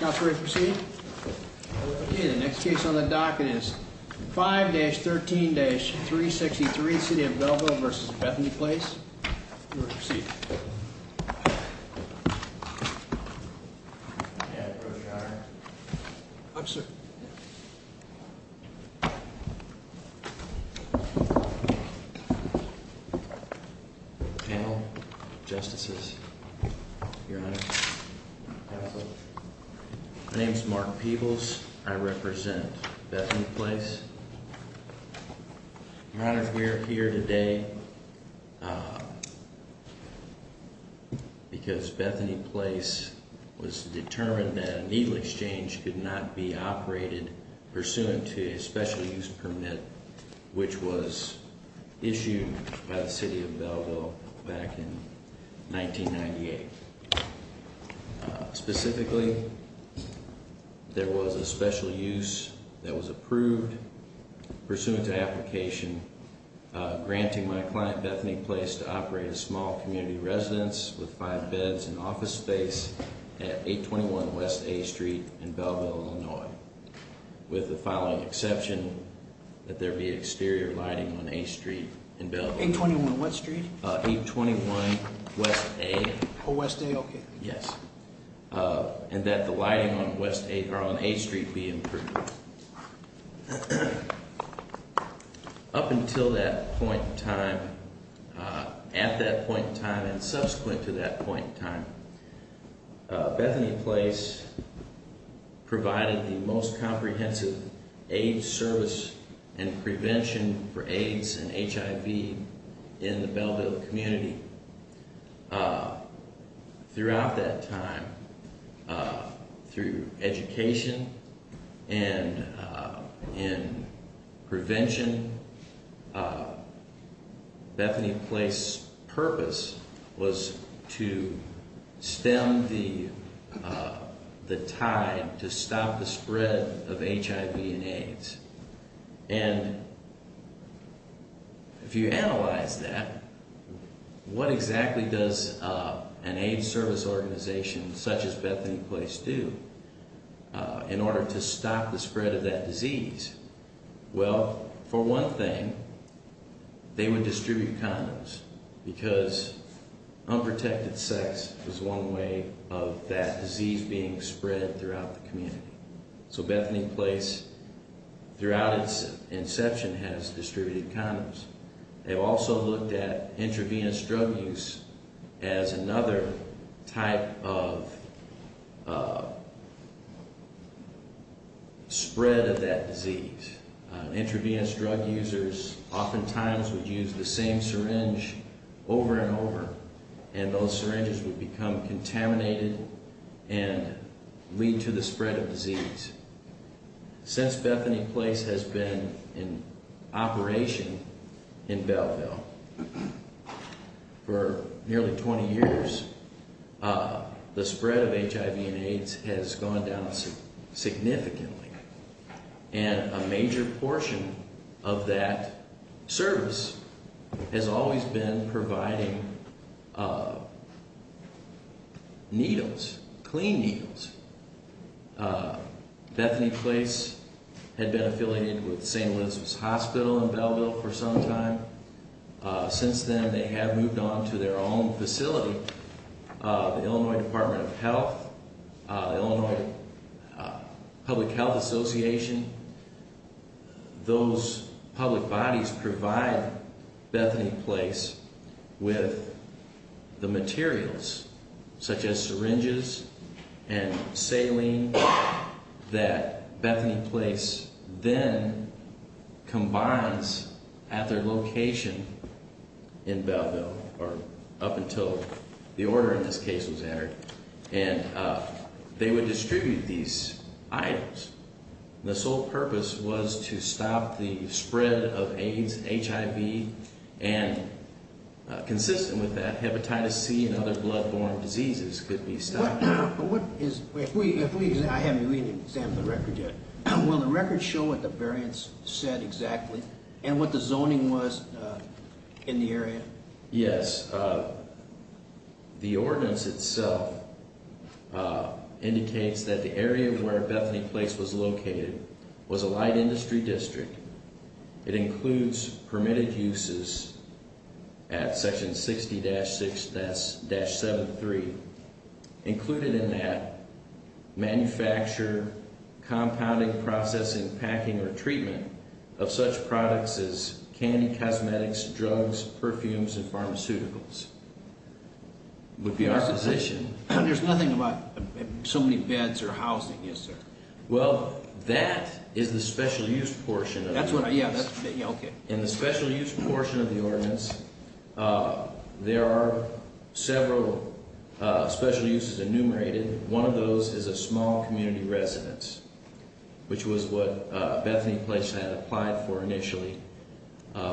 The next case on the docket is 5-13-363, City of Belleville v. Bethany Place. You are to proceed. My name is Mark Peebles, I represent Bethany Place. We are here today because Bethany Place was determined that a needle exchange could not be operated pursuant to a special use permit which was issued by the City of Belleville back in 1998. Specifically, there was a special use that was approved pursuant to application granting my client Bethany Place to operate a small community residence with five beds and office space at 821 West A Street in Belleville, Illinois. With the following exception that there be exterior lighting on A Street in Belleville. 821 what street? 821 West A. Yes. And that the lighting on A Street be approved. Up until that point in time, at that point in time and subsequent to that point in time, Bethany Place provided the most comprehensive AIDS service and prevention for AIDS and HIV in the Belleville community. Throughout that time, through education and in prevention, Bethany Place's purpose was to stem the tide to stop the spread of HIV and AIDS. And if you analyze that, what exactly does an AIDS service organization such as Bethany Place do in order to stop the spread of that disease? Well, for one thing, they would distribute condoms because unprotected sex is one way of that disease being spread throughout the community. So Bethany Place, throughout its inception, has distributed condoms. They've also looked at intravenous drug use as another type of spread of that disease. And intravenous drug users oftentimes would use the same syringe over and over and those syringes would become contaminated and lead to the spread of disease. Since Bethany Place has been in operation in Belleville for nearly 20 years, the spread of HIV and AIDS has gone down significantly. And a major portion of that service has always been providing needles, clean needles. Bethany Place had been affiliated with St. Elizabeth's Hospital in Belleville for some time. Since then, they have moved on to their own facility, the Illinois Department of Health. The Illinois Public Health Association, those public bodies provide Bethany Place with the materials such as syringes and saline that Bethany Place then combines at their location in Belleville, or up until the order in this case was entered. And they would distribute these items. The sole purpose was to stop the spread of AIDS and HIV, and consistent with that, hepatitis C and other blood-borne diseases could be stopped. But what is, if we, I haven't even examined the record yet. Will the record show what the variants said exactly, and what the zoning was in the area? Yes, the ordinance itself indicates that the area where Bethany Place was located was a light industry district. It includes permitted uses at section 60-6-73. Included in that, manufacture, compounding, processing, packing, or treatment of such products as candy, cosmetics, drugs, perfumes, and pharmaceuticals. Would be our position. There's nothing about so many beds or housing, is there? Well, that is the special use portion of the ordinance. That's what I, yeah, okay. In the special use portion of the ordinance, there are several special uses enumerated. One of those is a small community residence, which was what Bethany Place had applied for initially,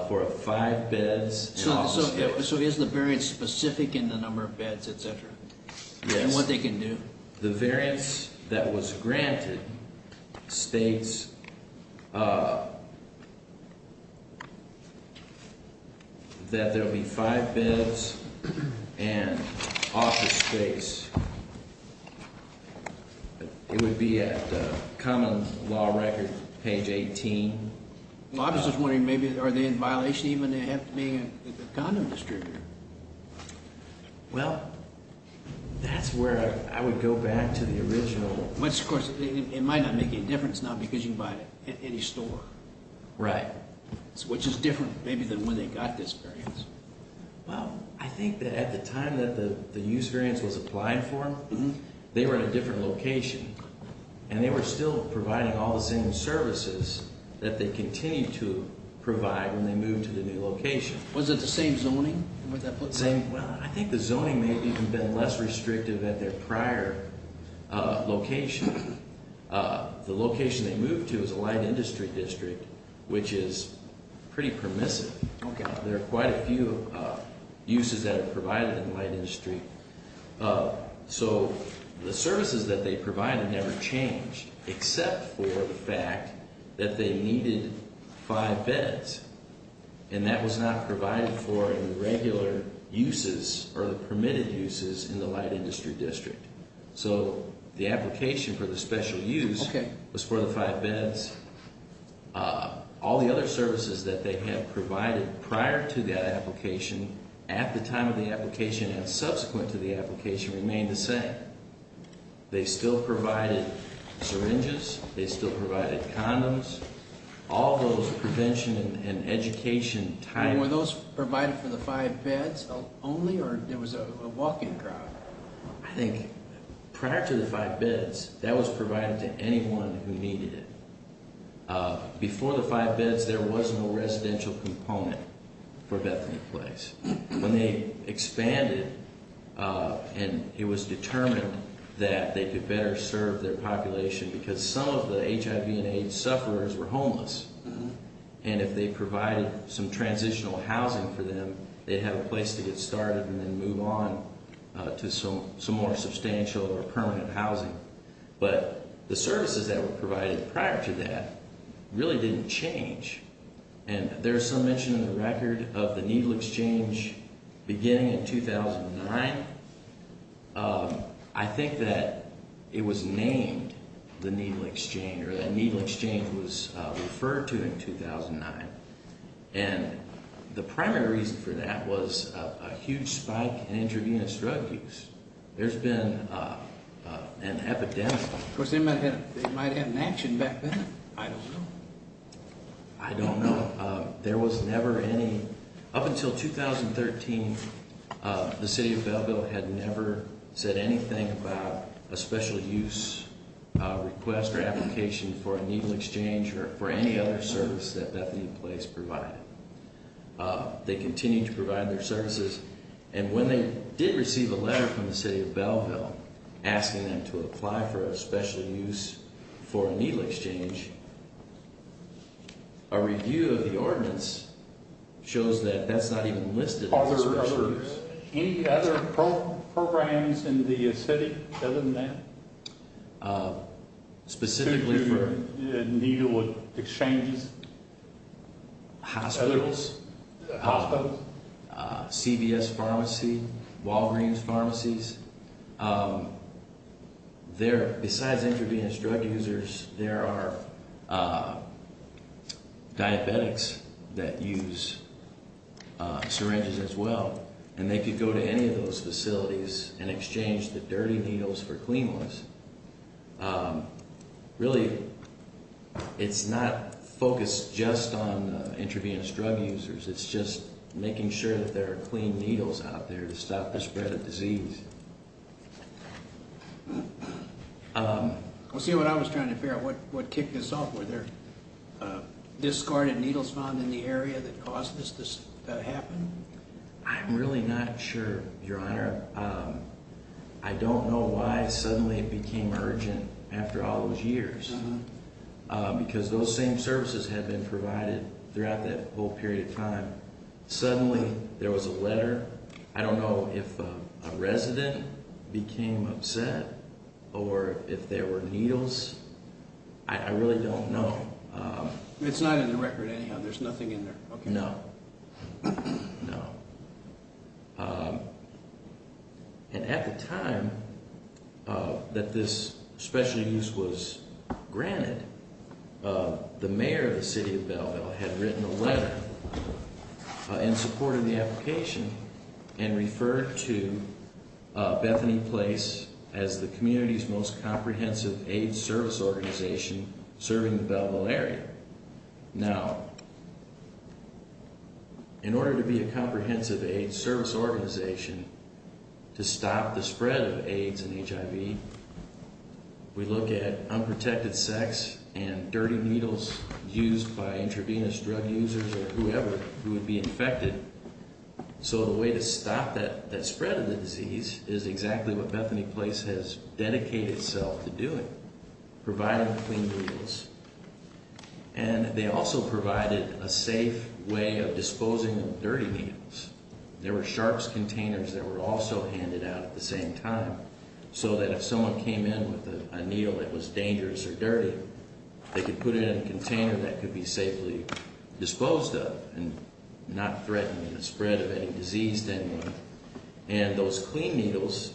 for five beds and office space. So is the variance specific in the number of beds, et cetera? Yes. And what they can do? The variance that was granted states that there will be five beds and office space. It would be at common law record, page 18. Well, I was just wondering, maybe, are they in violation even of it being a condom distributor? Well, that's where I would go back to the original. Which, of course, it might not make any difference now because you can buy it at any store. Right. Which is different, maybe, than when they got this variance. Well, I think that at the time that the use variance was applied for, they were in a different location. And they were still providing all the same services that they continue to provide when they move to the new location. Was it the same zoning? Well, I think the zoning may have even been less restrictive at their prior location. The location they moved to is a light industry district, which is pretty permissive. There are quite a few uses that are provided in the light industry. So the services that they provided never changed except for the fact that they needed five beds. And that was not provided for in the regular uses or the permitted uses in the light industry district. So the application for the special use was for the five beds. All the other services that they had provided prior to that application, at the time of the application, and subsequent to the application, remained the same. They still provided syringes. They still provided condoms. All those prevention and education types. Were those provided for the five beds only, or there was a walk-in crowd? I think prior to the five beds, that was provided to anyone who needed it. Before the five beds, there was no residential component for Bethany Place. When they expanded, it was determined that they could better serve their population because some of the HIV and AIDS sufferers were homeless. And if they provided some transitional housing for them, they'd have a place to get started and then move on to some more substantial or permanent housing. But the services that were provided prior to that really didn't change. And there's some mention in the record of the needle exchange beginning in 2009. I think that it was named the needle exchange, or that needle exchange was referred to in 2009. And the primary reason for that was a huge spike in intravenous drug use. There's been an epidemic. Of course, they might have had an action back then. I don't know. I don't know. Up until 2013, the city of Belleville had never said anything about a special use request or application for a needle exchange or for any other service that Bethany Place provided. They continued to provide their services. And when they did receive a letter from the city of Belleville asking them to apply for a special use for a needle exchange, a review of the ordinance shows that that's not even listed as a special use. Are there any other programs in the city other than that? Specifically for… To do needle exchanges? Hospitals. Hospitals? CVS Pharmacy. Walgreens Pharmacies. There, besides intravenous drug users, there are diabetics that use syringes as well. And they could go to any of those facilities and exchange the dirty needles for clean ones. Really, it's not focused just on intravenous drug users. It's just making sure that there are clean needles out there to stop the spread of disease. Let's see what I was trying to figure out. What kicked this off? Were there discarded needles found in the area that caused this to happen? I'm really not sure, Your Honor. I don't know why suddenly it became urgent after all those years. Because those same services had been provided throughout that whole period of time. Suddenly, there was a letter. I don't know if a resident became upset or if there were needles. I really don't know. It's not in the record anyhow. There's nothing in there. No. No. And at the time that this specialty use was granted, the mayor of the city of Belleville had written a letter in support of the application and referred to Bethany Place as the community's most comprehensive AIDS service organization serving the Belleville area. Now, in order to be a comprehensive AIDS service organization to stop the spread of AIDS and HIV, we look at unprotected sex and dirty needles used by intravenous drug users or whoever who would be infected. So the way to stop that spread of the disease is exactly what Bethany Place has dedicated itself to doing, providing clean needles. And they also provided a safe way of disposing of dirty needles. There were sharps containers that were also handed out at the same time so that if someone came in with a needle that was dangerous or dirty, they could put it in a container that could be safely disposed of and not threaten the spread of any disease to anyone. And those clean needles,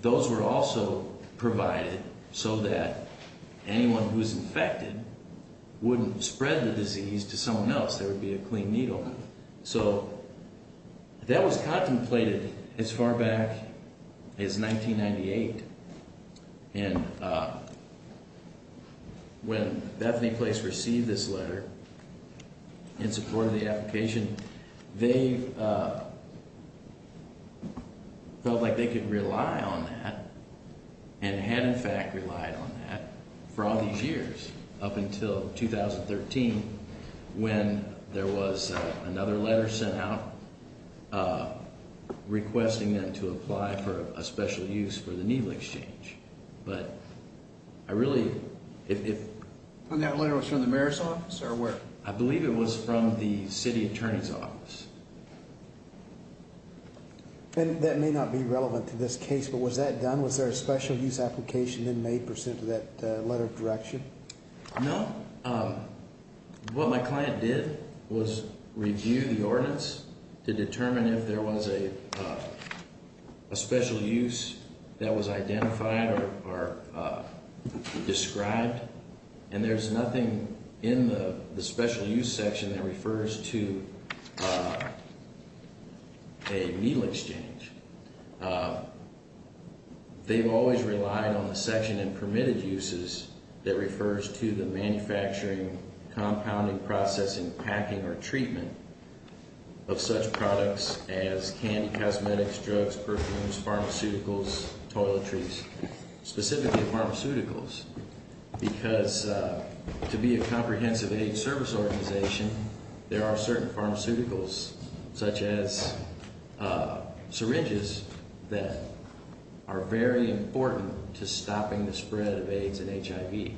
those were also provided so that anyone who was infected wouldn't spread the disease to someone else. There would be a clean needle. So that was contemplated as far back as 1998. And when Bethany Place received this letter in support of the application, they felt like they could rely on that and had, in fact, relied on that for all these years up until 2013 when there was another letter sent out requesting them to apply for a special use for the needle exchange. But I really, if... And that letter was from the mayor's office or where? I believe it was from the city attorney's office. And that may not be relevant to this case, but was that done? Was there a special use application then made pursuant to that letter of direction? No. What my client did was review the ordinance to determine if there was a special use that was identified or described. And there's nothing in the special use section that refers to a needle exchange. They've always relied on the section in permitted uses that refers to the manufacturing, compounding, processing, packing, or treatment of such products as candy, cosmetics, drugs, perfumes, pharmaceuticals, toiletries, specifically pharmaceuticals, because to be a comprehensive AIDS service organization, there are certain pharmaceuticals such as syringes that are very important to stopping the spread of AIDS and HIV.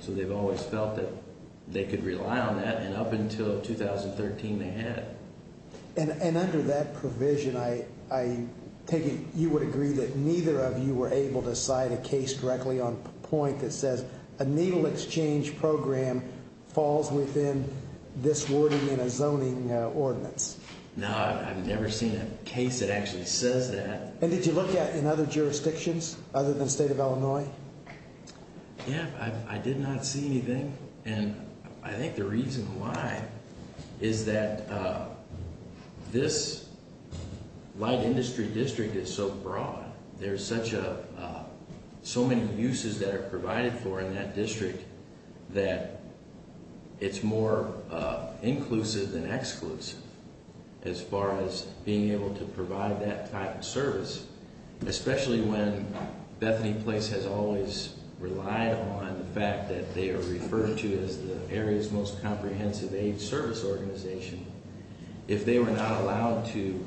So they've always felt that they could rely on that, and up until 2013 they had. And under that provision, I take it you would agree that neither of you were able to cite a case directly on point that says a needle exchange program falls within this wording in a zoning ordinance. No, I've never seen a case that actually says that. And did you look at it in other jurisdictions other than the state of Illinois? Yeah, I did not see anything. And I think the reason why is that this light industry district is so broad. There's so many uses that are provided for in that district that it's more inclusive than exclusive as far as being able to provide that type of service, especially when Bethany Place has always relied on the fact that they are referred to as the area's most comprehensive AIDS service organization. If they were not allowed to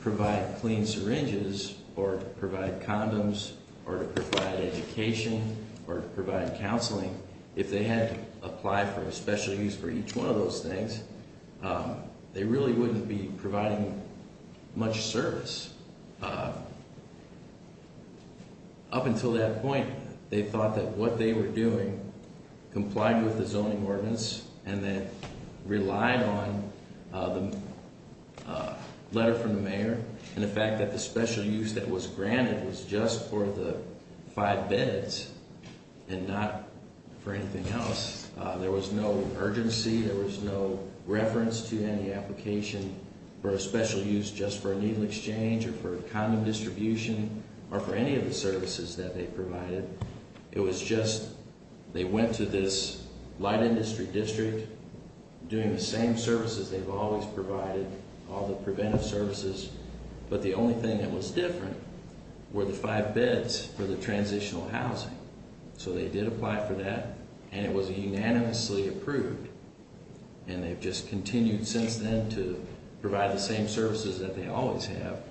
provide clean syringes or to provide condoms or to provide education or to provide counseling, if they had to apply for special use for each one of those things, they really wouldn't be providing much service. Up until that point, they thought that what they were doing complied with the zoning ordinance and that relied on the letter from the mayor and the fact that the special use that was granted was just for the five beds and not for anything else. There was no urgency. There was no reference to any application for a special use just for a needle exchange or for condom distribution or for any of the services that they provided. It was just they went to this light industry district doing the same services they've always provided, all the preventive services. But the only thing that was different were the five beds for the transitional housing. So they did apply for that, and it was unanimously approved. And they've just continued since then to provide the same services that they always have.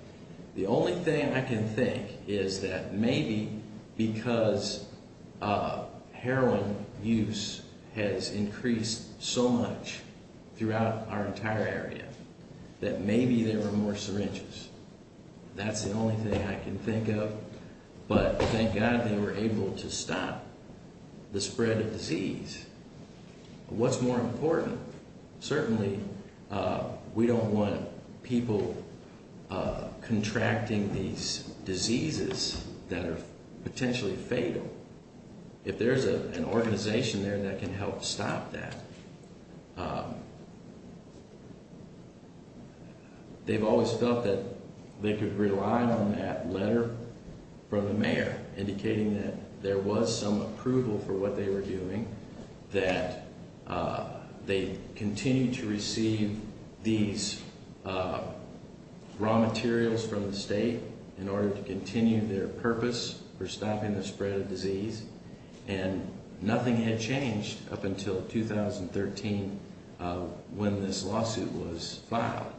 The only thing I can think is that maybe because heroin use has increased so much throughout our entire area that maybe there were more syringes. That's the only thing I can think of. But thank God they were able to stop the spread of disease. What's more important? Certainly, we don't want people contracting these diseases that are potentially fatal. If there's an organization there that can help stop that. They've always felt that they could rely on that letter from the mayor, indicating that there was some approval for what they were doing. That they continue to receive these raw materials from the state in order to continue their purpose for stopping the spread of disease. And nothing had changed up until 2013 when this lawsuit was filed.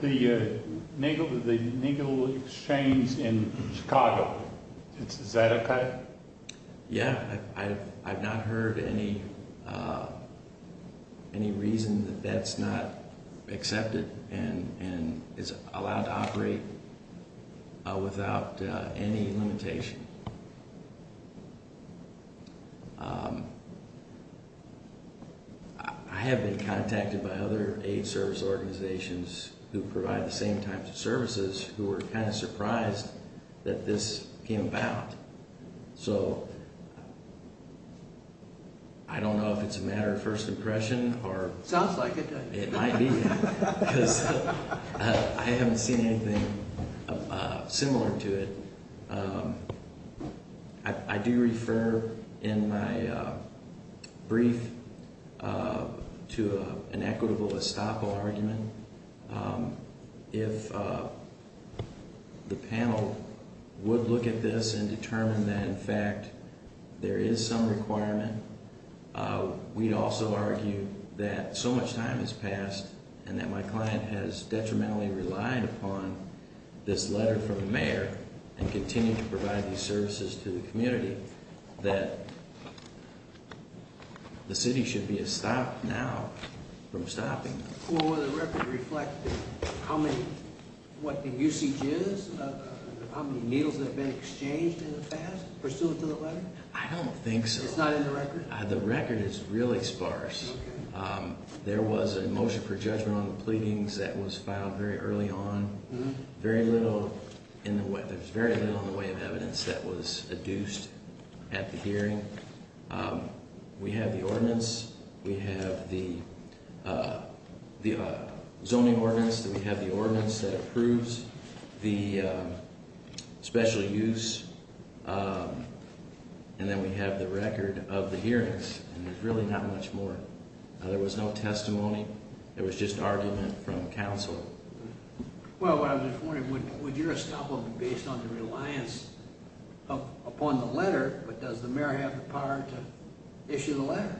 The legal exchange in Chicago, is that okay? Yeah, I've not heard any reason that that's not accepted and is allowed to operate without any limitation. I have been contacted by other aid service organizations who provide the same types of services who were kind of surprised that this came about. So, I don't know if it's a matter of first impression or- Sounds like it does. It might be, because I haven't seen anything similar to it. I do refer in my brief to an equitable estoppel argument. If the panel would look at this and determine that in fact there is some requirement, we'd also argue that so much time has passed and that my client has detrimentally relied upon this letter from the mayor and continued to provide these services to the community, that the city should be estopped now from stopping. Will the record reflect what the usage is? How many meals have been exchanged in the past pursuant to the letter? I don't think so. It's not in the record? The record is really sparse. There was a motion for judgment on the pleadings that was filed very early on. There's very little in the way of evidence that was adduced at the hearing. We have the ordinance. We have the zoning ordinance. We have the ordinance that approves the special use. And then we have the record of the hearings. There's really not much more. There was no testimony. There was just argument from counsel. Well, I was just wondering, would your estoppel be based on the reliance upon the letter, but does the mayor have the power to issue the letter?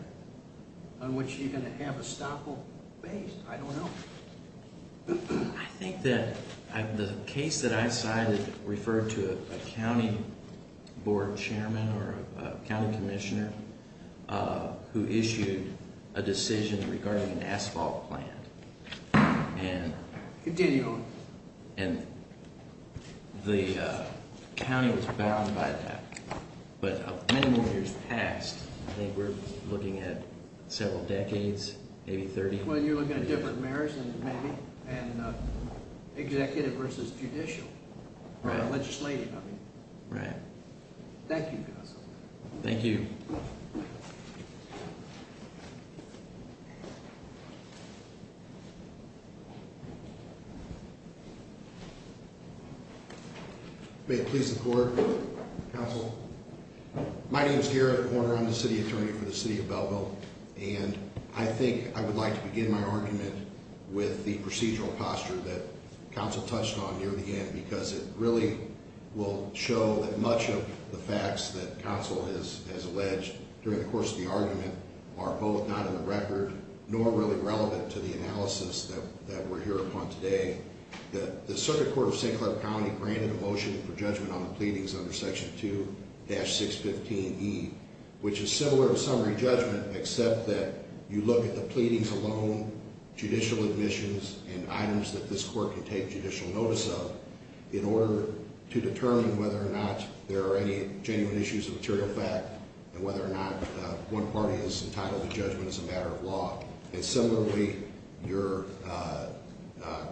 And would she have an estoppel based? I don't know. I think that the case that I cited referred to a county board chairman or a county commissioner who issued a decision regarding an asphalt plan. Continue on. And the county was bound by that. But many more years passed. I think we're looking at several decades, maybe 30. Well, you're looking at different mayors, maybe, and executive versus judicial. Right. Legislative, I mean. Right. Thank you, counsel. Thank you. Thank you. May it please the court. Counsel. My name is Garrett Warner. I'm the city attorney for the city of Belleville. And I think I would like to begin my argument with the procedural posture that counsel touched on near the end, because it really will show that much of the facts that counsel has alleged during the course of the argument are both not in the record, nor really relevant to the analysis that we're here upon today. The circuit court of St. Clair County granted a motion for judgment on the pleadings under Section 2-615E, which is similar to summary judgment, except that you look at the pleadings alone, judicial admissions, and items that this court can take judicial notice of, in order to determine whether or not there are any genuine issues of material fact and whether or not one party is entitled to judgment as a matter of law. And similarly, your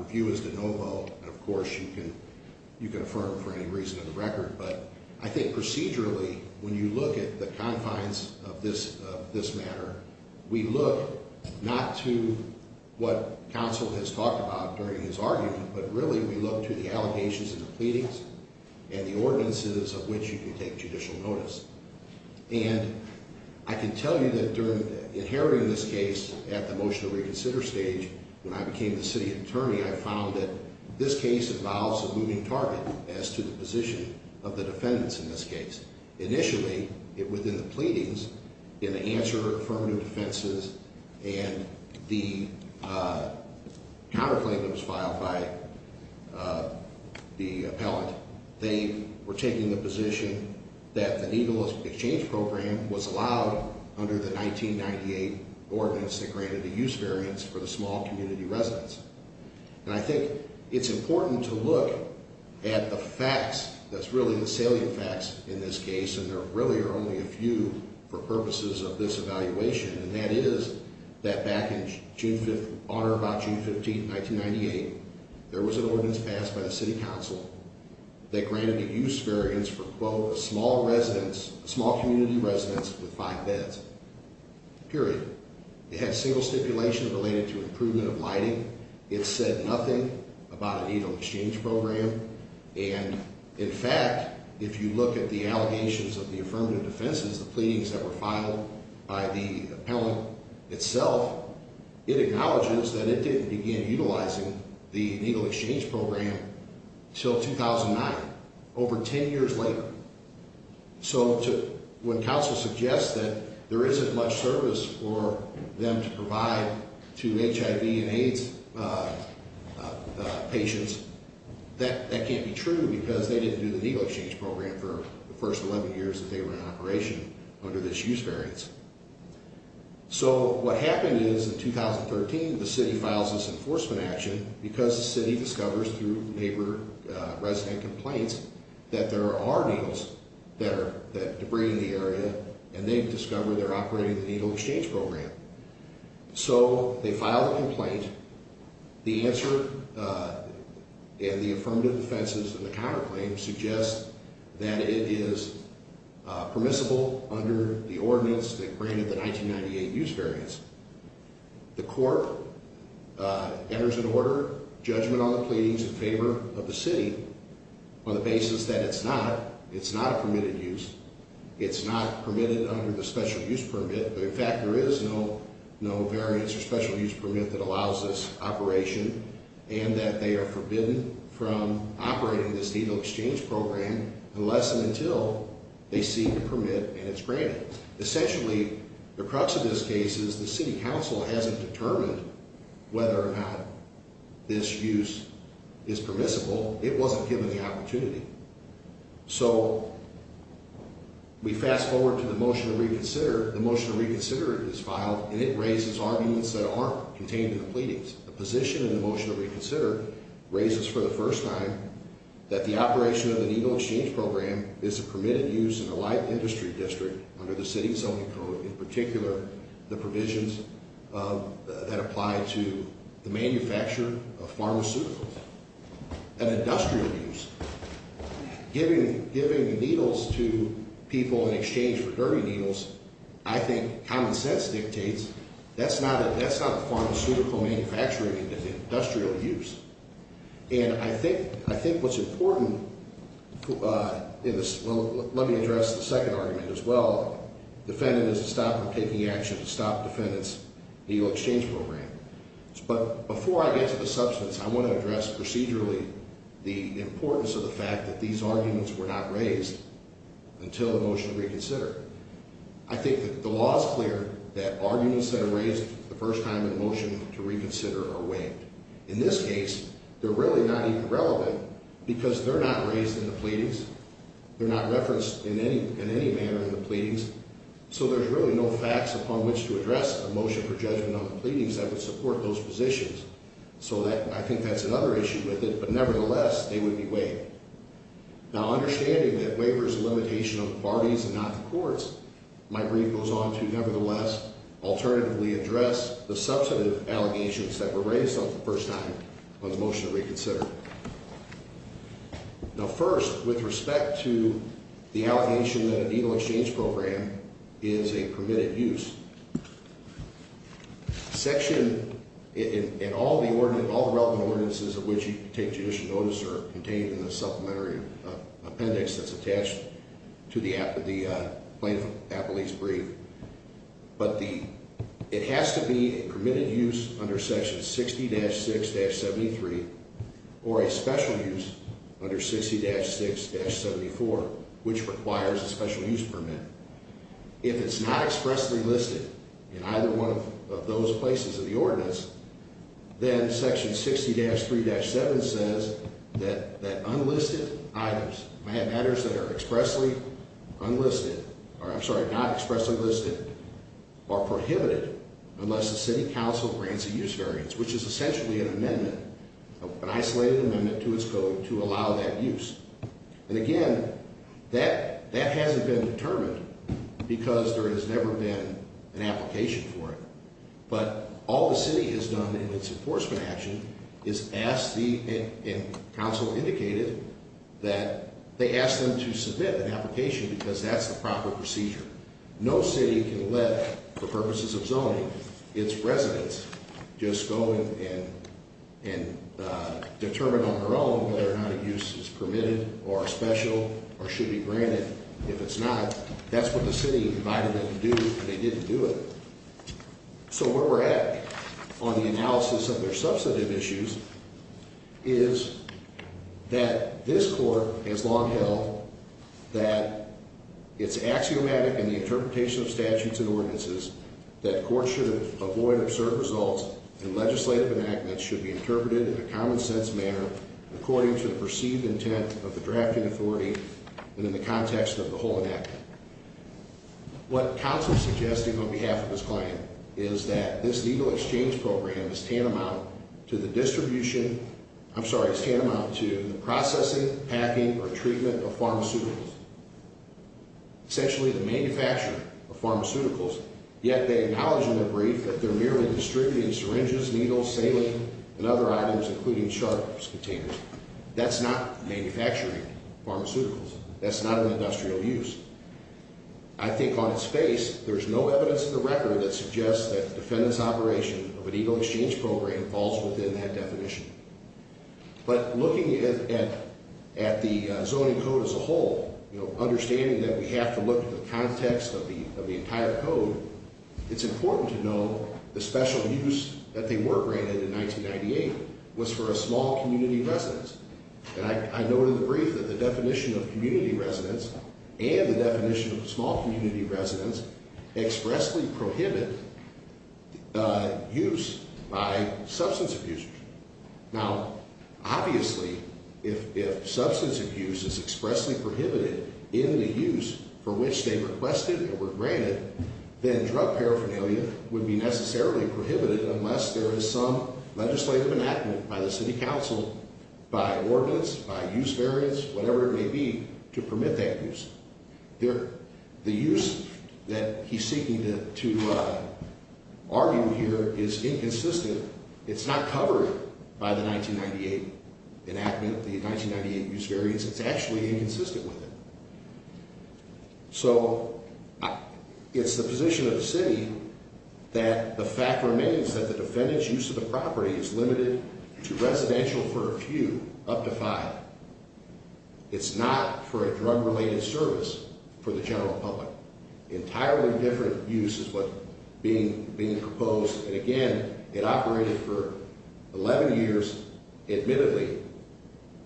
review is de novo, and of course you can affirm for any reason in the record. But I think procedurally, when you look at the confines of this matter, we look not to what counsel has talked about during his argument, but really we look to the allegations in the pleadings and the ordinances of which you can take judicial notice. And I can tell you that during, inheriting this case at the motion to reconsider stage, when I became the city attorney, I found that this case involves a moving target as to the position of the defendants in this case. Initially, within the pleadings, in the answer affirmative offenses and the counterclaim that was filed by the appellate, they were taking the position that the needleless exchange program was allowed under the 1998 ordinance that granted the use variance for the small community residence. And I think it's important to look at the facts that's really the salient facts in this case, and there really are only a few for purposes of this evaluation. And that is that back in June 5th, on or about June 15th, 1998, there was an ordinance passed by the city council that granted a use variance for, quote, a small community residence with five beds, period. It had single stipulation related to improvement of lighting. It said nothing about a needle exchange program. And, in fact, if you look at the allegations of the affirmative defenses, the pleadings that were filed by the appellant itself, it acknowledges that it didn't begin utilizing the needle exchange program until 2009, over 10 years later. So when council suggests that there isn't much service for them to provide to HIV and AIDS patients, that can't be true because they didn't do the needle exchange program for the first 11 years that they were in operation under this use variance. So what happened is, in 2013, the city files this enforcement action because the city discovers through neighbor resident complaints that there are needles there, that debris in the area, and they discover they're operating the needle exchange program. So they file the complaint. The answer in the affirmative defenses in the counterclaim suggests that it is permissible under the ordinance that granted the 1998 use variance. The court enters an order, judgment on the pleadings in favor of the city, on the basis that it's not. It's not a permitted use. It's not permitted under the special use permit. In fact, there is no variance or special use permit that allows this operation, and that they are forbidden from operating this needle exchange program unless and until they see the permit and it's granted. Essentially, the crux of this case is the city council hasn't determined whether or not this use is permissible. It wasn't given the opportunity. So we fast forward to the motion to reconsider. The motion to reconsider is filed, and it raises arguments that aren't contained in the pleadings. The position in the motion to reconsider raises for the first time that the operation of the needle exchange program is a permitted use in a live industry district under the city zoning code, in particular the provisions that apply to the manufacture of pharmaceuticals and industrial use. Giving needles to people in exchange for dirty needles, I think common sense dictates that's not a pharmaceutical manufacturing industrial use. And I think what's important in this, well, let me address the second argument as well. Defendant is stopped from taking action to stop defendant's needle exchange program. But before I get to the substance, I want to address procedurally the importance of the fact that these arguments were not raised until the motion to reconsider. I think that the law is clear that arguments that are raised the first time in the motion to reconsider are waived. In this case, they're really not even relevant because they're not raised in the pleadings. They're not referenced in any manner in the pleadings. So there's really no facts upon which to address a motion for judgment on the pleadings that would support those positions. So I think that's another issue with it. But nevertheless, they would be waived. Now, understanding that waiver is a limitation of the parties and not the courts, my brief goes on to, nevertheless, alternatively address the substantive allegations that were raised the first time on the motion to reconsider. Now, first, with respect to the allegation that a needle exchange program is a permitted use, section in all the relevant ordinances of which you can take judicial notice are contained in the supplementary appendix that's attached to the plaintiff's brief. But it has to be a permitted use under section 60-6-73 or a special use under 60-6-74, which requires a special use permit. If it's not expressly listed in either one of those places in the ordinance, then section 60-3-7 says that unlisted items, matters that are expressly unlisted, or I'm sorry, not expressly listed, are prohibited unless the city council grants a use variance, which is essentially an amendment, an isolated amendment to its code to allow that use. And again, that hasn't been determined because there has never been an application for it. But all the city has done in its enforcement action is ask the, and council indicated, that they asked them to submit an application because that's the proper procedure. No city can let, for purposes of zoning, its residents just go and determine on their own whether or not a use is permitted or special or should be granted. If it's not, that's what the city invited them to do, and they didn't do it. So where we're at on the analysis of their substantive issues is that this court has long held that it's axiomatic in the interpretation of statutes and ordinances that courts should avoid absurd results and legislative enactments should be interpreted in a common sense manner according to the perceived intent of the drafting authority and in the context of the whole enactment. What council is suggesting on behalf of this client is that this needle exchange program is tantamount to the distribution, I'm sorry, it's tantamount to the processing, packing, or treatment of pharmaceuticals. Essentially the manufacture of pharmaceuticals, yet they acknowledge in their brief that they're merely distributing syringes, needles, saline, and other items including sharps containers. That's not manufacturing pharmaceuticals. That's not an industrial use. I think on its face, there's no evidence in the record that suggests that the defendant's operation of a needle exchange program falls within that definition. But looking at the zoning code as a whole, understanding that we have to look at the context of the entire code, it's important to know the special use that they were granted in 1998 was for a small community residence. And I noted in the brief that the definition of community residence and the definition of small community residence expressly prohibit use by substance abusers. Now, obviously, if substance abuse is expressly prohibited in the use for which they requested and were granted, then drug paraphernalia would be necessarily prohibited unless there is some legislative enactment by the city council, by ordinance, by use variance, whatever it may be, to permit that use. The use that he's seeking to argue here is inconsistent. It's not covered by the 1998 enactment, the 1998 use variance. It's actually inconsistent with it. So it's the position of the city that the fact remains that the defendant's use of the property is limited to residential for a few, up to five. It's not for a drug-related service for the general public. Entirely different use is what's being proposed. And again, it operated for 11 years, admittedly,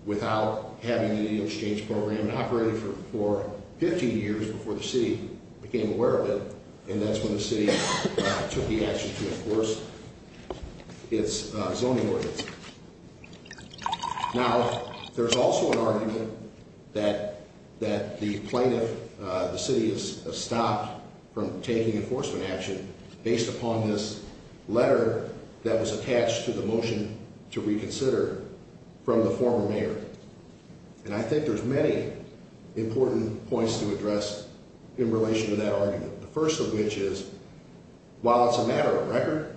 without having an exchange program. It operated for 15 years before the city became aware of it, and that's when the city took the action to enforce its zoning ordinance. Now, there's also an argument that the plaintiff, the city, has stopped from taking enforcement action based upon this letter that was attached to the motion to reconsider from the former mayor. And I think there's many important points to address in relation to that argument, the first of which is, while it's a matter of record,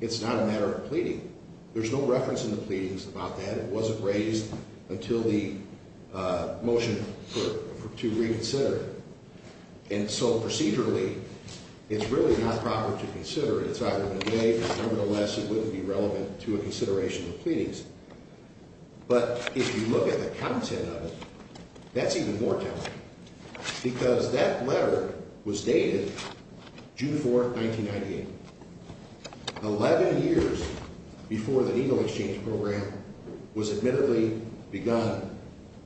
it's not a matter of pleading. There's no reference in the pleadings about that. It wasn't raised until the motion to reconsider. And so, procedurally, it's really not proper to consider it. It's either been made, or nevertheless, it wouldn't be relevant to a consideration of pleadings. But if you look at the content of it, that's even more telling, because that letter was dated June 4, 1998. Eleven years before the needle exchange program was admittedly begun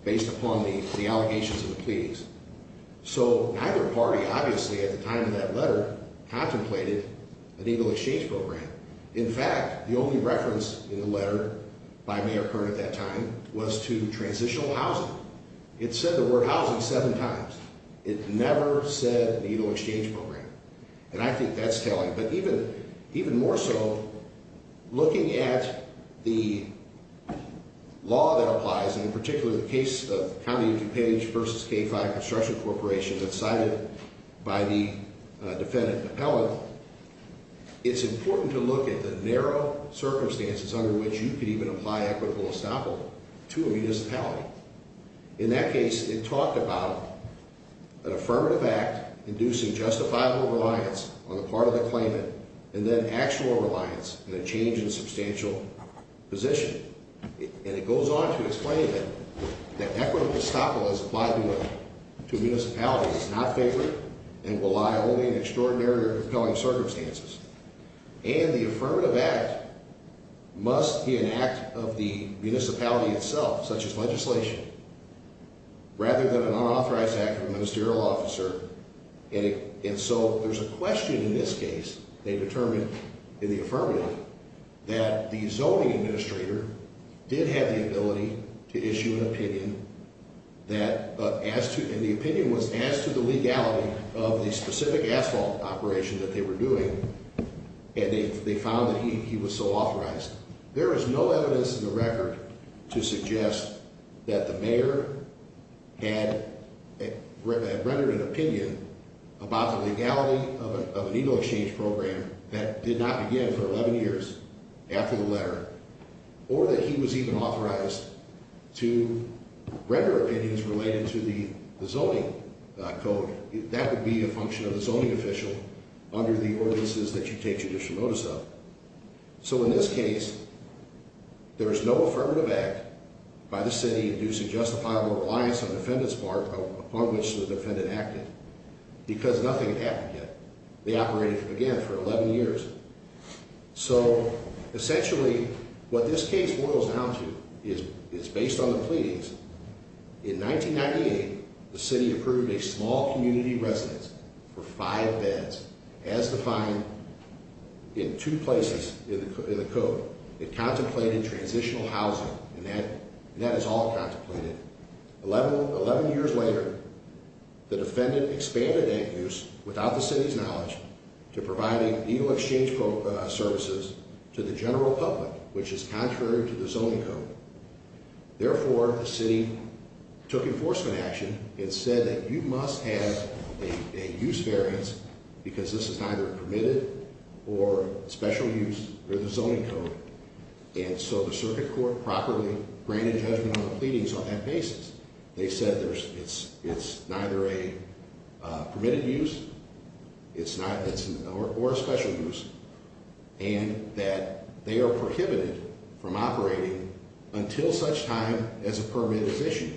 based upon the allegations of the pleadings. So, neither party, obviously, at the time of that letter, contemplated a needle exchange program. In fact, the only reference in the letter by Mayor Kern at that time was to transitional housing. It said the word housing seven times. It never said needle exchange program. And I think that's telling. But even more so, looking at the law that applies, and in particular the case of County of DuPage v. K-5 Construction Corporation that's cited by the defendant, McClellan, it's important to look at the narrow circumstances under which you could even apply equitable estoppel to a municipality. In that case, it talked about an affirmative act inducing justifiable reliance on the part of the claimant and then actual reliance in a change in substantial position. And it goes on to explain that equitable estoppel as applied to a municipality is not favorable and will lie only in extraordinary or compelling circumstances. And the affirmative act must be an act of the municipality itself, such as legislation, rather than an unauthorized act of a ministerial officer. And so there's a question in this case, they determined in the affirmative, that the zoning administrator did have the ability to issue an opinion that, and the opinion was as to the legality of the specific asphalt operation that they were doing, and they found that he was so authorized. There is no evidence in the record to suggest that the mayor had rendered an opinion about the legality of an eagle exchange program that did not begin for 11 years after the letter, or that he was even authorized to render opinions related to the zoning code. That would be a function of the zoning official under the ordinances that you take judicial notice of. So in this case, there is no affirmative act by the city inducing justifiable reliance on the defendant's part, upon which the defendant acted, because nothing had happened yet. They operated again for 11 years. So essentially, what this case boils down to is based on the pleadings. In 1998, the city approved a small community residence for five beds, as defined in two places in the code. It contemplated transitional housing, and that is all contemplated. 11 years later, the defendant expanded that use without the city's knowledge to providing eagle exchange services to the general public, which is contrary to the zoning code. Therefore, the city took enforcement action and said that you must have a use variance because this is neither permitted or special use under the zoning code. And so the circuit court properly granted judgment on the pleadings on that basis. They said it's neither a permitted use or a special use, and that they are prohibited from operating until such time as a permit is issued.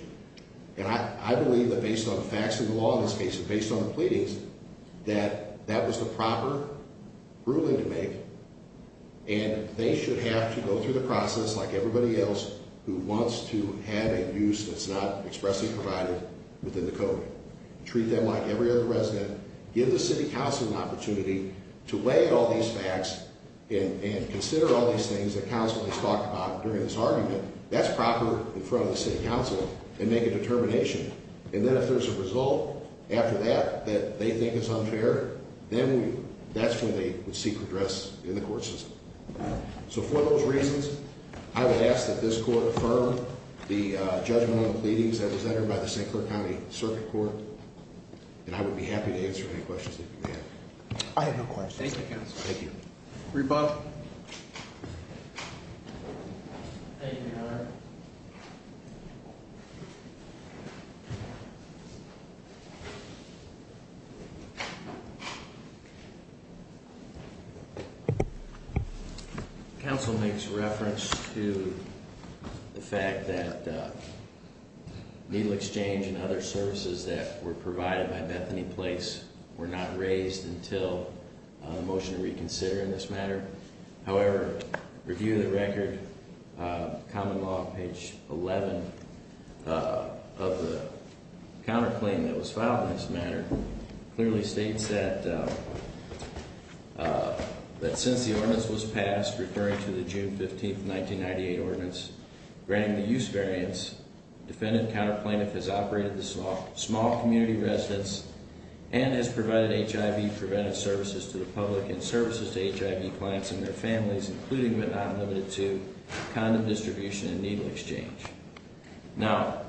And I believe that based on the facts of the law in this case and based on the pleadings, that that was the proper ruling to make, and they should have to go through the process like everybody else who wants to have a use that's not expressly provided within the code. Treat them like every other resident. Give the city council an opportunity to weigh in all these facts and consider all these things that council has talked about during this argument. That's proper in front of the city council and make a determination. And then if there's a result after that that they think is unfair, then that's when they would seek redress in the court system. So for those reasons, I would ask that this court affirm the judgment on the pleadings that was entered by the St. Clair County Circuit Court, and I would be happy to answer any questions that you may have. I have no questions. Thank you, counsel. Rebut. Thank you, Your Honor. Counsel makes reference to the fact that needle exchange and other services that were provided by Bethany Place were not raised until the motion to reconsider in this matter. However, review of the record, Common Law, page 11, of the counterclaim that was filed in this matter, clearly states that since the ordinance was passed, referring to the June 15, 1998, ordinance granting the use variance, defendant-counterplaintiff has operated the small community residence and has provided HIV-preventive services to the public and services to HIV clients and their families, including but not limited to condom distribution and needle exchange. Now,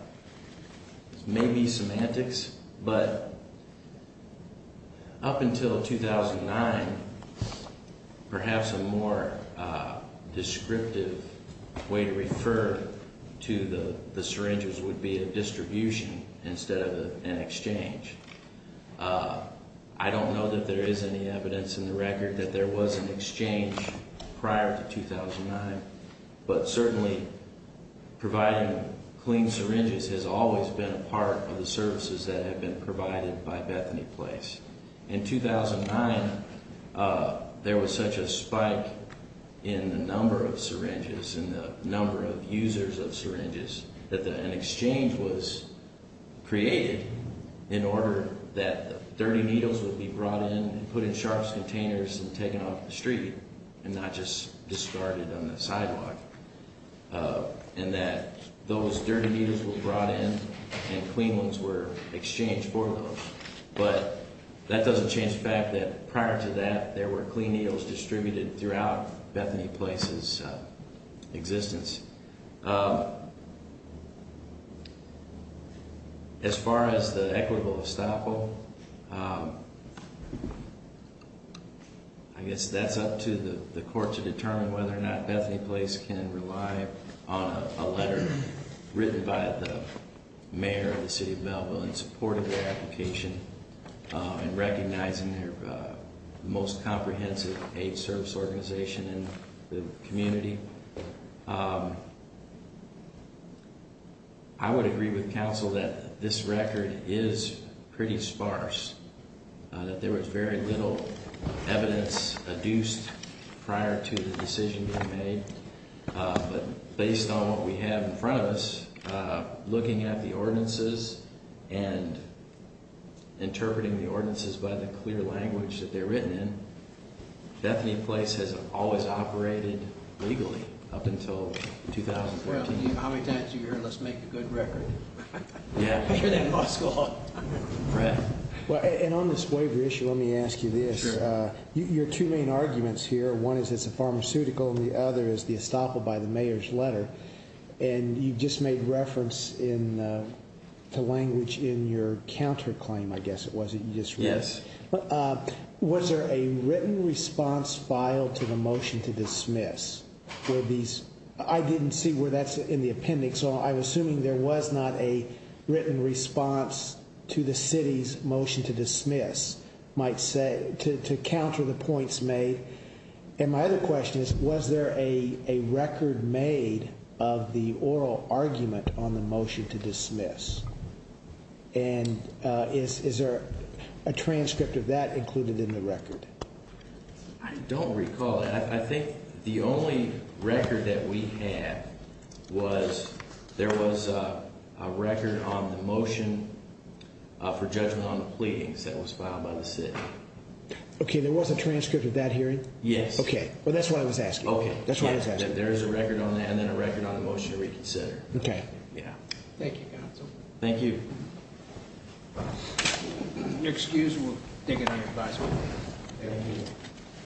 maybe semantics, but up until 2009, perhaps a more descriptive way to refer to the syringes would be a distribution instead of an exchange. I don't know that there is any evidence in the record that there was an exchange prior to 2009, but certainly providing clean syringes has always been a part of the services that have been provided by Bethany Place. In 2009, there was such a spike in the number of syringes and the number of users of syringes that an exchange was created in order that dirty needles would be brought in and put in sharps containers and taken off the street and not just discarded on the sidewalk, and that those dirty needles were brought in and clean ones were exchanged for those. But that doesn't change the fact that prior to that, As far as the equitable estoppel, I guess that's up to the court to determine whether or not Bethany Place can rely on a letter written by the mayor of the city of Melville in support of their application I would agree with counsel that this record is pretty sparse, that there was very little evidence adduced prior to the decision being made, but based on what we have in front of us, looking at the ordinances and interpreting the ordinances by the clear language that they're written in, Bethany Place has always operated legally up until 2014. Well, how many times do you hear, let's make a good record? Yeah. And on this waiver issue, let me ask you this. Your two main arguments here, one is it's a pharmaceutical and the other is the estoppel by the mayor's letter, and you just made reference to language in your counterclaim, I guess it was. Yes. Was there a written response filed to the motion to dismiss? I didn't see where that's in the appendix, so I'm assuming there was not a written response to the city's motion to dismiss to counter the points made. And my other question is, was there a record made of the oral argument on the motion to dismiss? And is there a transcript of that included in the record? I don't recall that. I think the only record that we have was there was a record on the motion for judgment on the pleadings that was filed by the city. Okay, there was a transcript of that hearing? Yes. Okay. Well, that's what I was asking. There is a record on that and then a record on the motion to reconsider. Okay. Thank you, counsel. Thank you. If you're excused, we'll dig into your advisement. Thank you.